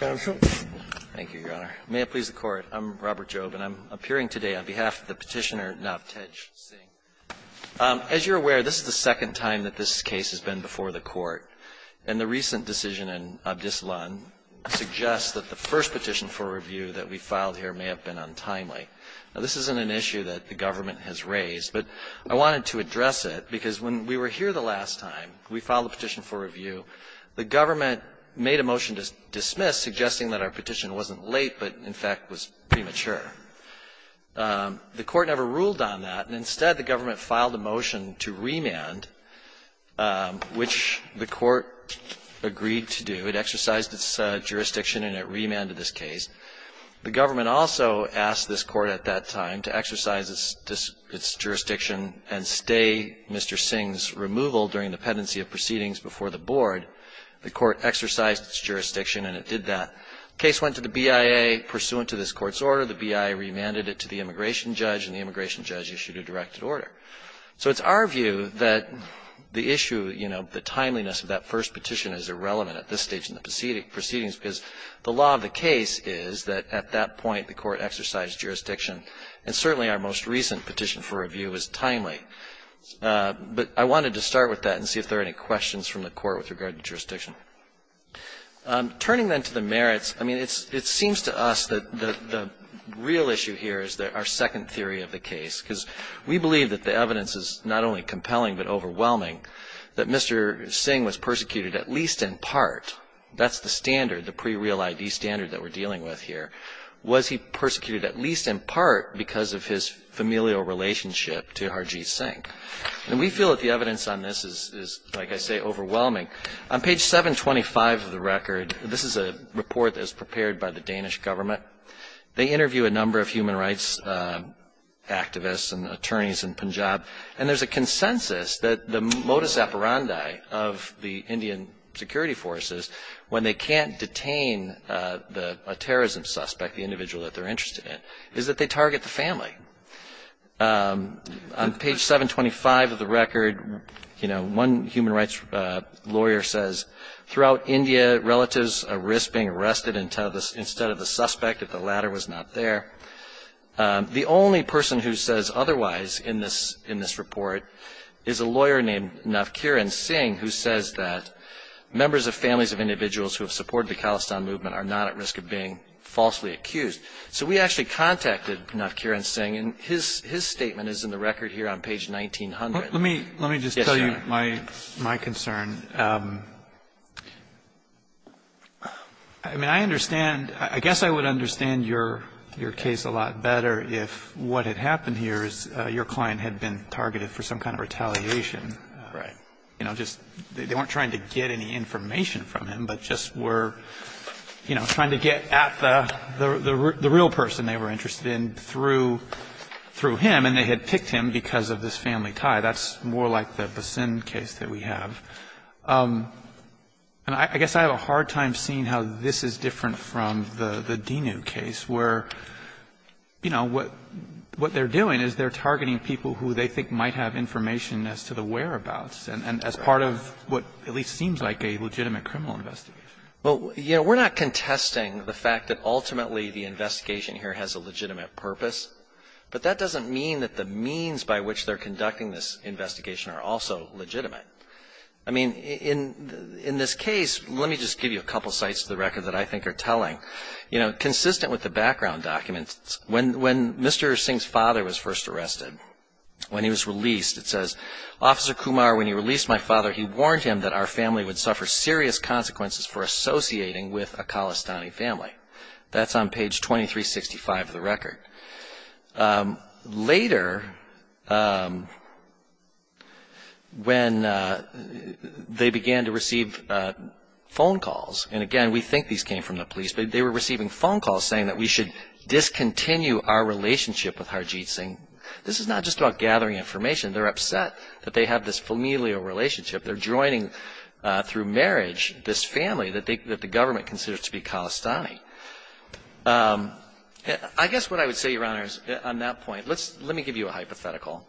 Thank you, Your Honor. May it please the Court, I'm Robert Jobe, and I'm appearing today on behalf of the Petitioner Navtej Singh. As you're aware, this is the second time that this case has been before the Court, and the recent decision in Abdislan suggests that the first petition for review that we filed here may have been untimely. Now, this isn't an issue that the government has raised, but I wanted to address it because when we were here the last time we filed a petition for review, the government made a motion to dismiss, suggesting that our petition wasn't late but, in fact, was premature. The Court never ruled on that, and instead the government filed a motion to remand, which the Court agreed to do. It exercised its jurisdiction and it remanded this case. The government also asked this Court at that time to exercise its jurisdiction and stay Mr. Singh's removal during the pendency of proceedings before the Board. The Court exercised its jurisdiction and it did that. The case went to the BIA. Pursuant to this Court's order, the BIA remanded it to the immigration judge, and the immigration judge issued a directed order. So it's our view that the issue, you know, the timeliness of that first petition is irrelevant at this stage in the proceedings because the law of the case is that at that point the Court exercised jurisdiction, and certainly our most recent petition for review is timely. But I wanted to start with that and see if there are any questions from the Court with regard to jurisdiction. Turning then to the merits, I mean, it seems to us that the real issue here is our second theory of the case because we believe that the evidence is not only compelling but overwhelming, that Mr. Singh was persecuted at least in part. That's the standard, the pre-real ID standard that we're dealing with here. Was he persecuted at least in part because of his familial relationship to Harjeet Singh? And we feel that the evidence on this is, like I say, overwhelming. On page 725 of the record, this is a report that was prepared by the Danish government. They interview a number of human rights activists and attorneys in Punjab, and there's a consensus that the modus operandi of the Indian security forces when they can't detain a terrorism suspect, the individual that they're interested in, is that they target the family. On page 725 of the record, you know, one human rights lawyer says, throughout India, relatives are at risk of being arrested instead of the suspect if the latter was not there. The only person who says otherwise in this report is a lawyer named Navkiran Singh, who says that members of families of individuals who have supported the Khalistan movement are not at risk of being falsely accused. So we actually contacted Navkiran Singh, and his statement is in the record here on page 1900. Let me just tell you my concern. I mean, I understand. I guess I would understand your case a lot better if what had happened here is your client had been targeted for some kind of retaliation. Right. You know, just they weren't trying to get any information from him, but just were, you know, trying to get at the real person they were interested in through him, and they had picked him because of this family tie. That's more like the Basin case that we have. And I guess I have a hard time seeing how this is different from the Dinu case, where, you know, what they're doing is they're targeting people who they think might have information as to the whereabouts and as part of what at least seems like a legitimate criminal investigation. Well, you know, we're not contesting the fact that ultimately the investigation here has a legitimate purpose, but that doesn't mean that the means by which they're conducting this investigation are also legitimate. I mean, in this case, let me just give you a couple sites of the record that I think are telling. You know, consistent with the background documents, when Mr. Singh's father was first arrested, when he was released, it says, Officer Kumar, when he released my father, he warned him that our family would suffer serious consequences for associating with a Khalistani family. That's on page 2365 of the record. Later, when they began to receive phone calls, and again, we think these came from the police, but they were receiving phone calls saying that we should discontinue our relationship with Harjeet Singh. This is not just about gathering information. They're upset that they have this familial relationship. They're joining through marriage this family that the government considers to be Khalistani. I guess what I would say, Your Honors, on that point, let me give you a hypothetical.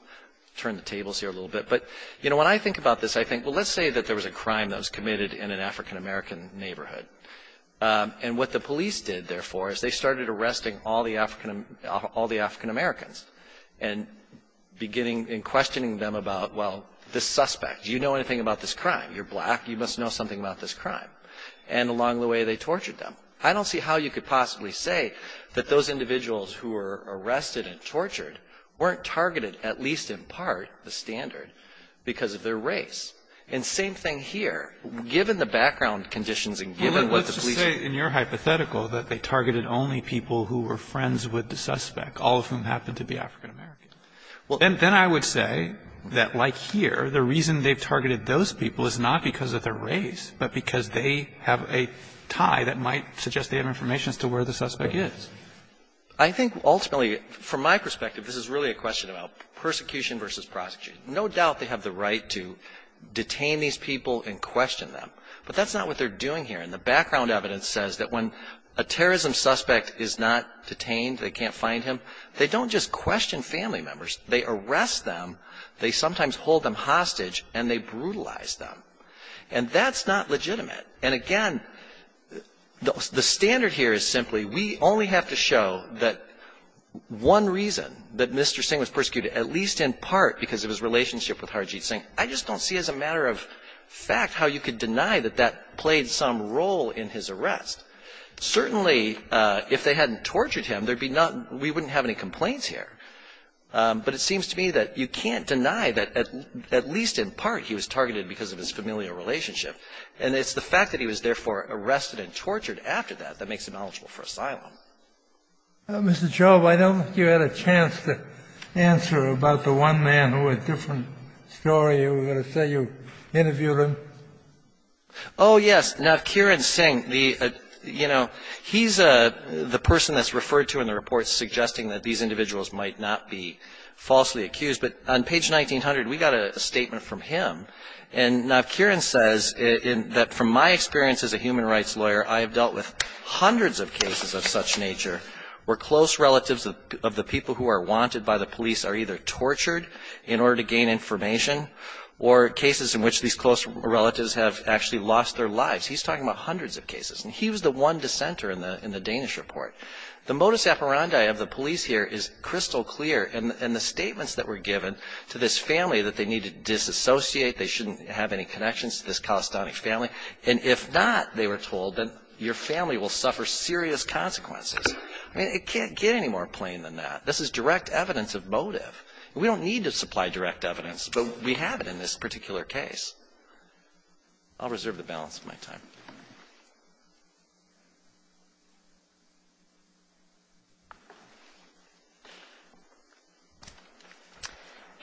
Turn the tables here a little bit. But, you know, when I think about this, I think, well, let's say that there was a crime that was committed in an African-American neighborhood. And what the police did, therefore, is they started arresting all the African Americans and questioning them about, well, this suspect, do you know anything about this crime? You're black. You must know something about this crime. And along the way, they tortured them. I don't see how you could possibly say that those individuals who were arrested and tortured weren't targeted, at least in part, the standard, because of their race. And same thing here. Given the background conditions and given what the police. Well, let's just say in your hypothetical that they targeted only people who were friends with the suspect, all of whom happened to be African Americans. And then I would say that, like here, the reason they've targeted those people is not because of their race, but because they have a tie that might suggest they have information as to where the suspect is. I think ultimately, from my perspective, this is really a question about persecution versus prosecution. No doubt they have the right to detain these people and question them. But that's not what they're doing here. And the background evidence says that when a terrorism suspect is not detained, they can't find him, they don't just question family members. They arrest them, they sometimes hold them hostage, and they brutalize them. And that's not legitimate. And, again, the standard here is simply we only have to show that one reason that Mr. Jobb had a relationship with Harjeet Singh. I just don't see as a matter of fact how you could deny that that played some role in his arrest. Certainly, if they hadn't tortured him, there would be not — we wouldn't have any complaints here. But it seems to me that you can't deny that at least in part he was targeted because of his familial relationship. And it's the fact that he was therefore arrested and tortured after that that makes him eligible for asylum. Mr. Jobb, I don't think you had a chance to answer about the one man who had a different story. You were going to say you interviewed him. Oh, yes. Navkiran Singh, the — you know, he's the person that's referred to in the report suggesting that these individuals might not be falsely accused. But on page 1900, we got a statement from him. And Navkiran says that, from my experience as a human rights lawyer, I have dealt with hundreds of cases of such nature where close relatives of the people who are wanted by the police are either tortured in order to gain information or cases in which these close relatives have actually lost their lives. He's talking about hundreds of cases. And he was the one dissenter in the Danish report. The modus operandi of the police here is crystal clear. And the statements that were given to this family that they need to disassociate, they shouldn't have any connections to this Khalistani family. And if not, they were told, then your family will suffer serious consequences. I mean, it can't get any more plain than that. This is direct evidence of motive. We don't need to supply direct evidence, but we have it in this particular case. I'll reserve the balance of my time.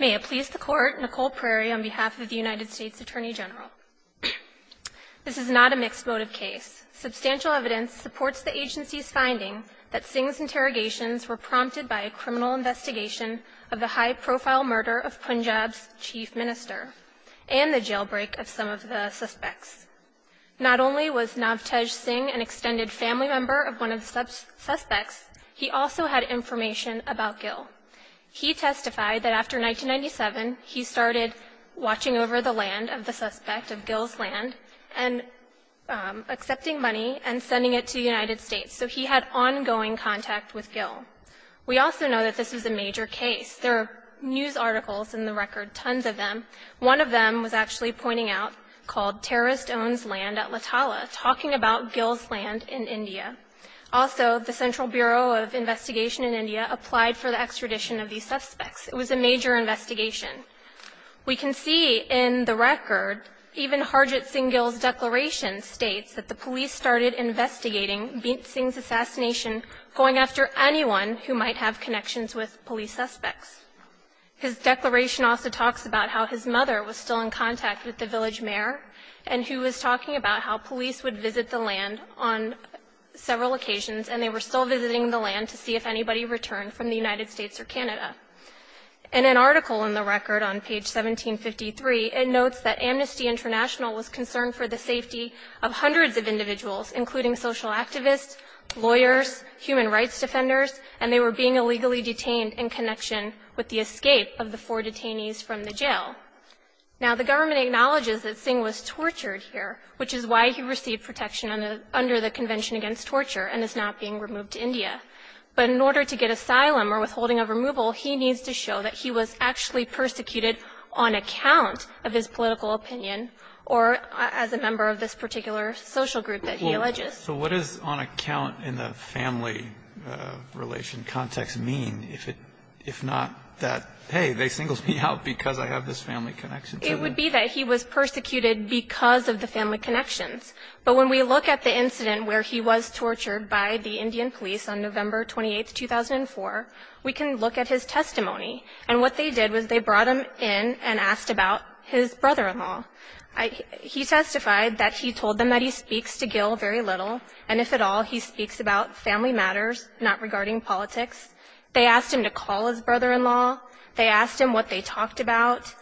May it please the Court, Nicole Prairie on behalf of the United States Attorney General. This is not a mixed motive case. Substantial evidence supports the agency's finding that Singh's interrogations were prompted by a criminal investigation of the high-profile murder of Punjab's chief minister and the jailbreak of some of the suspects. Not only was Navtej Singh an extended family member of one of the suspects, he also had information about Gil. He testified that after 1997, he started watching over the land of the suspect, of Gil's land, and accepting money and sending it to the United States. So he had ongoing contact with Gil. We also know that this is a major case. There are news articles in the record, tons of them. One of them was actually pointing out, called Terrorist Owns Land at Latala, talking about Gil's land in India. Also, the Central Bureau of Investigation in India applied for the extradition of these suspects. It was a major investigation. We can see in the record, even Harjit Singh Gil's declaration states that the police started investigating Singh's assassination, going after anyone who might have connections with police suspects. His declaration also talks about how his mother was still in contact with the village mayor, and who was talking about how police would visit the land on several occasions, and they were still visiting the land to see if anybody returned from the United States or Canada. In an article in the record on page 1753, it notes that Amnesty International was concerned for the safety of hundreds of individuals, including social activists, lawyers, human rights defenders, and they were being illegally detained in connection with the escape of the four detainees from the jail. Now, the government acknowledges that Singh was tortured here, which is why he received protection under the Convention Against Torture and is now being removed to India. But in order to get asylum or withholding of removal, he needs to show that he was actually persecuted on account of his political opinion or as a member of this particular social group that he alleges. So what does on account in the family relation context mean if it – if not that, hey, they singled me out because I have this family connection to them? It would be that he was persecuted because of the family connections. But when we look at the incident where he was tortured by the Indian police on November 28, 2004, we can look at his testimony. And what they did was they brought him in and asked about his brother-in-law. He testified that he told them that he speaks to Gill very little, and if at all, he speaks about family matters, not regarding politics. They asked him to call his brother-in-law. They asked him what they talked about.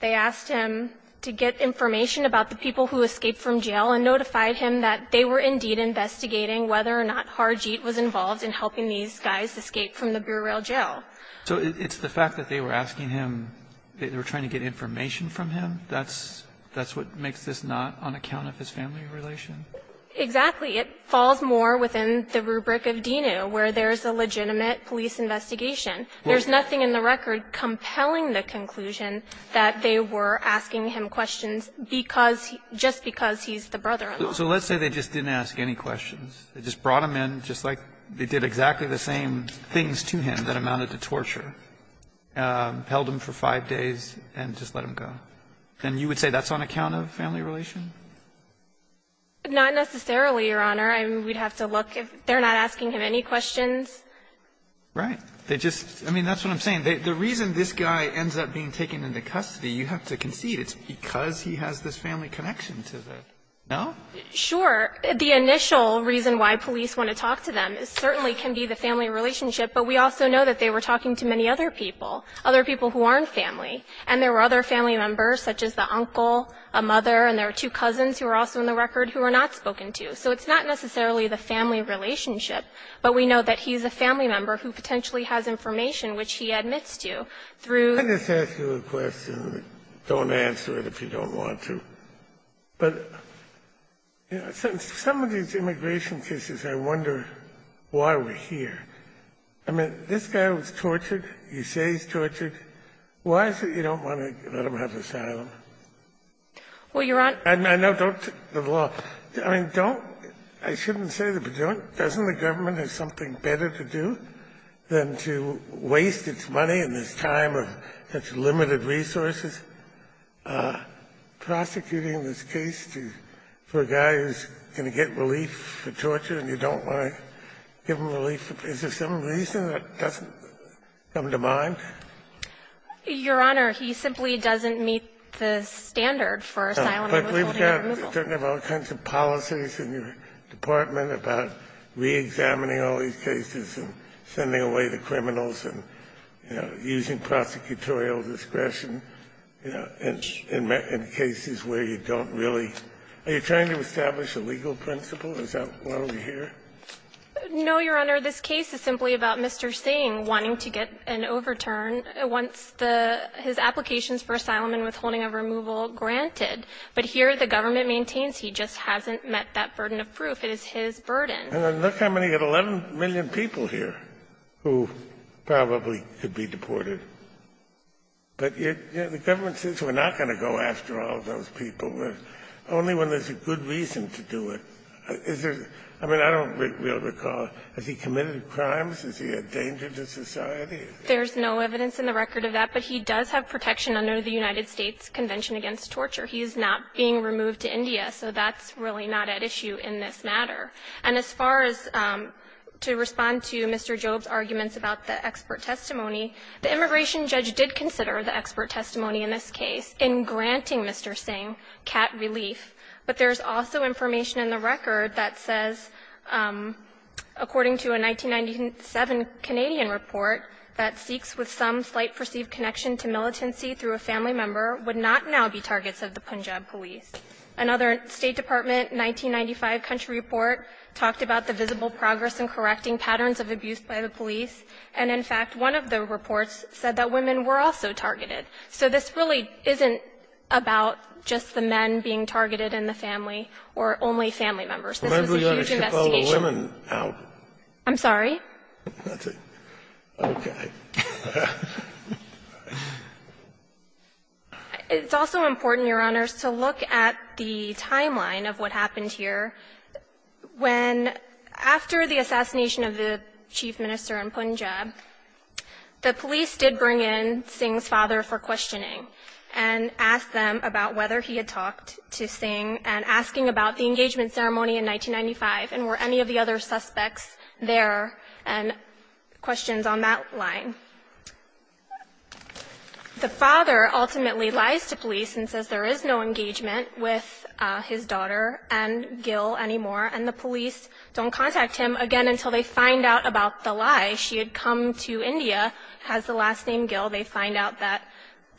They asked him to get information about the people who escaped from jail and notified him that they were indeed investigating whether or not Harjeet was involved in helping these guys escape from the Burial Jail. So it's the fact that they were asking him, they were trying to get information from him, that's what makes this not on account of his family relation? Exactly. It falls more within the rubric of DINU, where there's a legitimate police investigation. There's nothing in the record compelling the conclusion that they were asking him questions because he, just because he's the brother-in-law. So let's say they just didn't ask any questions. They just brought him in just like they did exactly the same things to him that amounted to torture, held him for five days and just let him go. Then you would say that's on account of family relation? Not necessarily, Your Honor. I mean, we'd have to look. If they're not asking him any questions. Right. They just, I mean, that's what I'm saying. The reason this guy ends up being taken into custody, you have to concede, it's because he has this family connection to them. No? Sure. The initial reason why police want to talk to them certainly can be the family relationship, but we also know that they were talking to many other people, other people who aren't family, and there were other family members such as the uncle, a mother, and there were two cousins who were also in the record who were not spoken So it's not necessarily the family relationship, but we know that he's a family member who potentially has information which he admits to through the family relationship. I'll just ask you a question. Don't answer it if you don't want to. But some of these immigration cases, I wonder why we're here. I mean, this guy was tortured. You say he's tortured. Why is it you don't want to let him have asylum? Well, Your Honor. I know. I shouldn't say this, but doesn't the government have something better to do than to waste its money in this time of such limited resources, prosecuting this case for a guy who's going to get relief for torture and you don't want to give him relief? Is there some reason that doesn't come to mind? Your Honor, he simply doesn't meet the standard for asylum. But we've got all kinds of policies in your department about reexamining all these cases and sending away the criminals and using prosecutorial discretion in cases where you don't really. Are you trying to establish a legal principle? Is that why we're here? No, Your Honor. Your Honor, this case is simply about Mr. Singh wanting to get an overturn once the his applications for asylum and withholding of removal are granted. But here the government maintains he just hasn't met that burden of proof. It is his burden. And look how many. You've got 11 million people here who probably could be deported. But the government says we're not going to go after all those people. Only when there's a good reason to do it. I mean, I don't really recall. Has he committed crimes? Is he a danger to society? There's no evidence in the record of that. But he does have protection under the United States Convention Against Torture. He is not being removed to India. So that's really not at issue in this matter. And as far as to respond to Mr. Job's arguments about the expert testimony, the immigration judge did consider the expert testimony in this case in granting Mr. Singh cat relief. But there's also information in the record that says, according to a 1997 Canadian report, that Sikhs with some slight perceived connection to militancy through a family member would not now be targets of the Punjab police. Another State Department 1995 country report talked about the visible progress in correcting patterns of abuse by the police. And in fact, one of the reports said that women were also targeted. So this really isn't about just the men being targeted in the family or only family members. This is a huge investigation. Scalia, you're going to chip all the women out. I'm sorry? That's it. Okay. It's also important, Your Honors, to look at the timeline of what happened here when, after the assassination of the chief minister in Punjab, the police did bring in Singh's father for questioning and asked them about whether he had talked to Singh and asking about the engagement ceremony in 1995 and were any of the other suspects there and questions on that line. The father ultimately lies to police and says there is no engagement with his daughter and Gil anymore, and the police don't contact him again until they find out about the lie. She had come to India, has the last name Gil. They find out that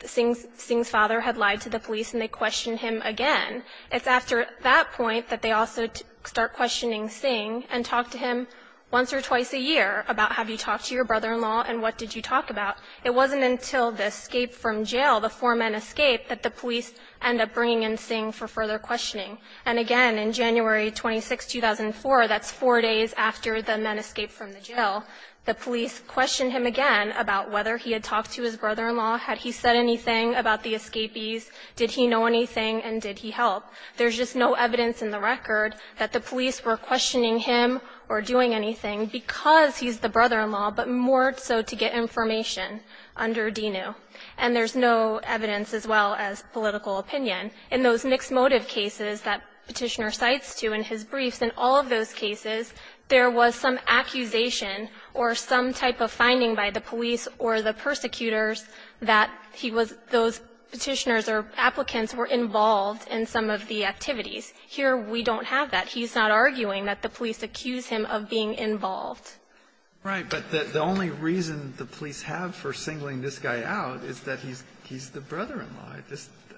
Singh's father had lied to the police and they questioned him again. It's after that point that they also start questioning Singh and talk to him once or twice a year about have you talked to your brother-in-law and what did you talk about. It wasn't until the escape from jail, the four men escape, that the police end up bringing in Singh for further questioning. And again, in January 26, 2004, that's four days after the men escaped from the jail, the police questioned him again about whether he had talked to his brother-in-law, had he said anything about the escapees, did he know anything, and did he help. There's just no evidence in the record that the police were questioning him or doing anything because he's the brother-in-law, but more so to get information under DENU. And there's no evidence as well as political opinion. In those mixed motive cases that Petitioner cites to in his briefs, in all of those cases, there was some accusation or some type of finding by the police or the persecutors that he was those Petitioners or applicants were involved in some of the activities. Here we don't have that. He's not arguing that the police accuse him of being involved. Right. But the only reason the police have for singling this guy out is that he's the brother-in-law.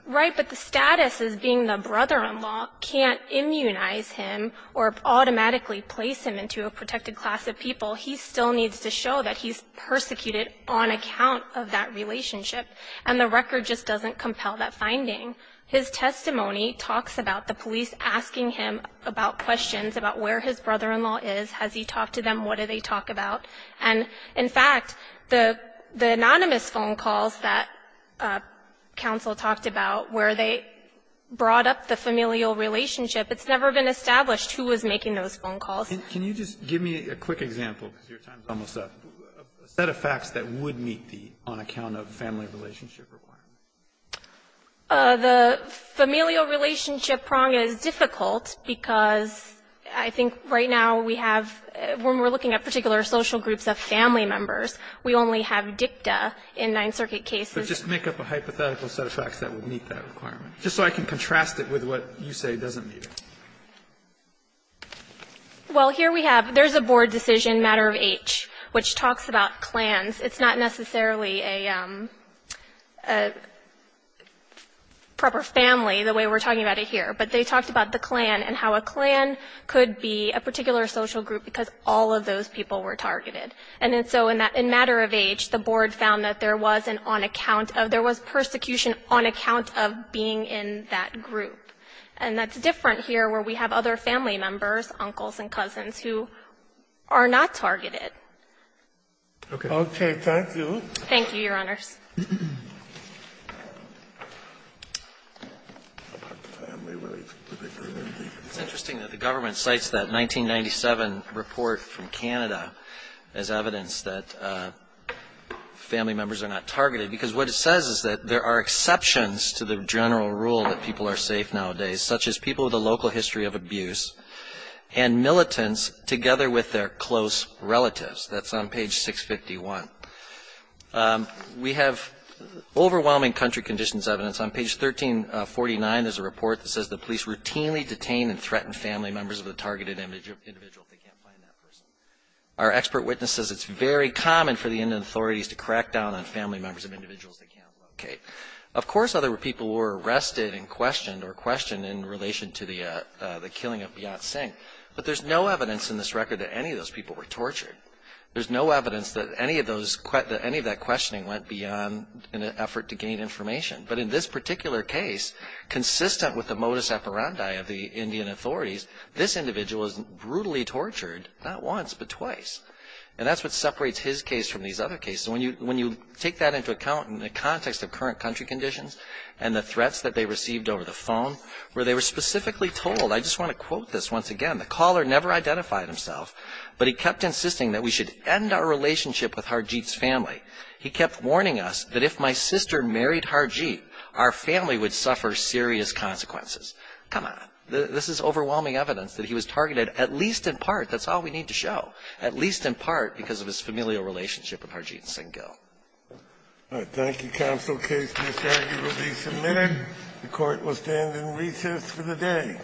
Right. But the status as being the brother-in-law can't immunize him or automatically place him into a protected class of people. He still needs to show that he's persecuted on account of that relationship. And the record just doesn't compel that finding. His testimony talks about the police asking him about questions about where his brother-in-law is. Has he talked to them? What do they talk about? And, in fact, the anonymous phone calls that counsel talked about where they brought up the familial relationship, it's never been established who was making those phone calls. Can you just give me a quick example, because your time is almost up, a set of facts that would meet the on-account-of-family-relationship requirement? The familial relationship prong is difficult because I think right now we have, when we're looking at particular social groups of family members, we only have dicta in Ninth Circuit cases. But just make up a hypothetical set of facts that would meet that requirement. Just so I can contrast it with what you say doesn't meet it. Well, here we have there's a board decision, matter of H, which talks about clans. It's not necessarily a proper family the way we're talking about it here. But they talked about the clan and how a clan could be a particular social group because all of those people were targeted. And then so in that, in matter of H, the board found that there was an on-account of, there was persecution on account of being in that group. And that's different here where we have other family members, uncles and cousins, who are not targeted. Okay. Thank you. Thank you, Your Honors. It's interesting that the government cites that 1997 report from Canada as evidence that family members are not targeted because what it says is that there are exceptions to the general rule that people are safe nowadays, such as people with a local history of abuse and militants together with their close relatives. That's on page 651. We have overwhelming country conditions evidence on page 1349. There's a report that says the police routinely detain and threaten family members of the targeted individual if they can't find that person. Our expert witness says it's very common for the Indian authorities to crack down on family members of individuals they can't locate. Of course, other people were arrested and questioned or questioned in relation to the killing of Bhiat Singh. But there's no evidence in this record that any of those people were tortured. There's no evidence that any of that questioning went beyond an effort to gain information. But in this particular case, consistent with the modus operandi of the Indian authorities, this individual was brutally tortured not once but twice. And that's what separates his case from these other cases. When you take that into account in the context of current country conditions and the threats that they received over the phone, where they were specifically told, I just want to quote this once again, the caller never identified himself, but he kept insisting that we should end our relationship with Harjeet's family. He kept warning us that if my sister married Harjeet, our family would suffer serious consequences. Come on. This is overwhelming evidence that he was targeted at least in part, that's all we need to show, at least in part because of his familial relationship with Harjeet Singh Gill. Thank you, counsel. Case Miss Aggie will be submitted. The Court will stand in recess for the day.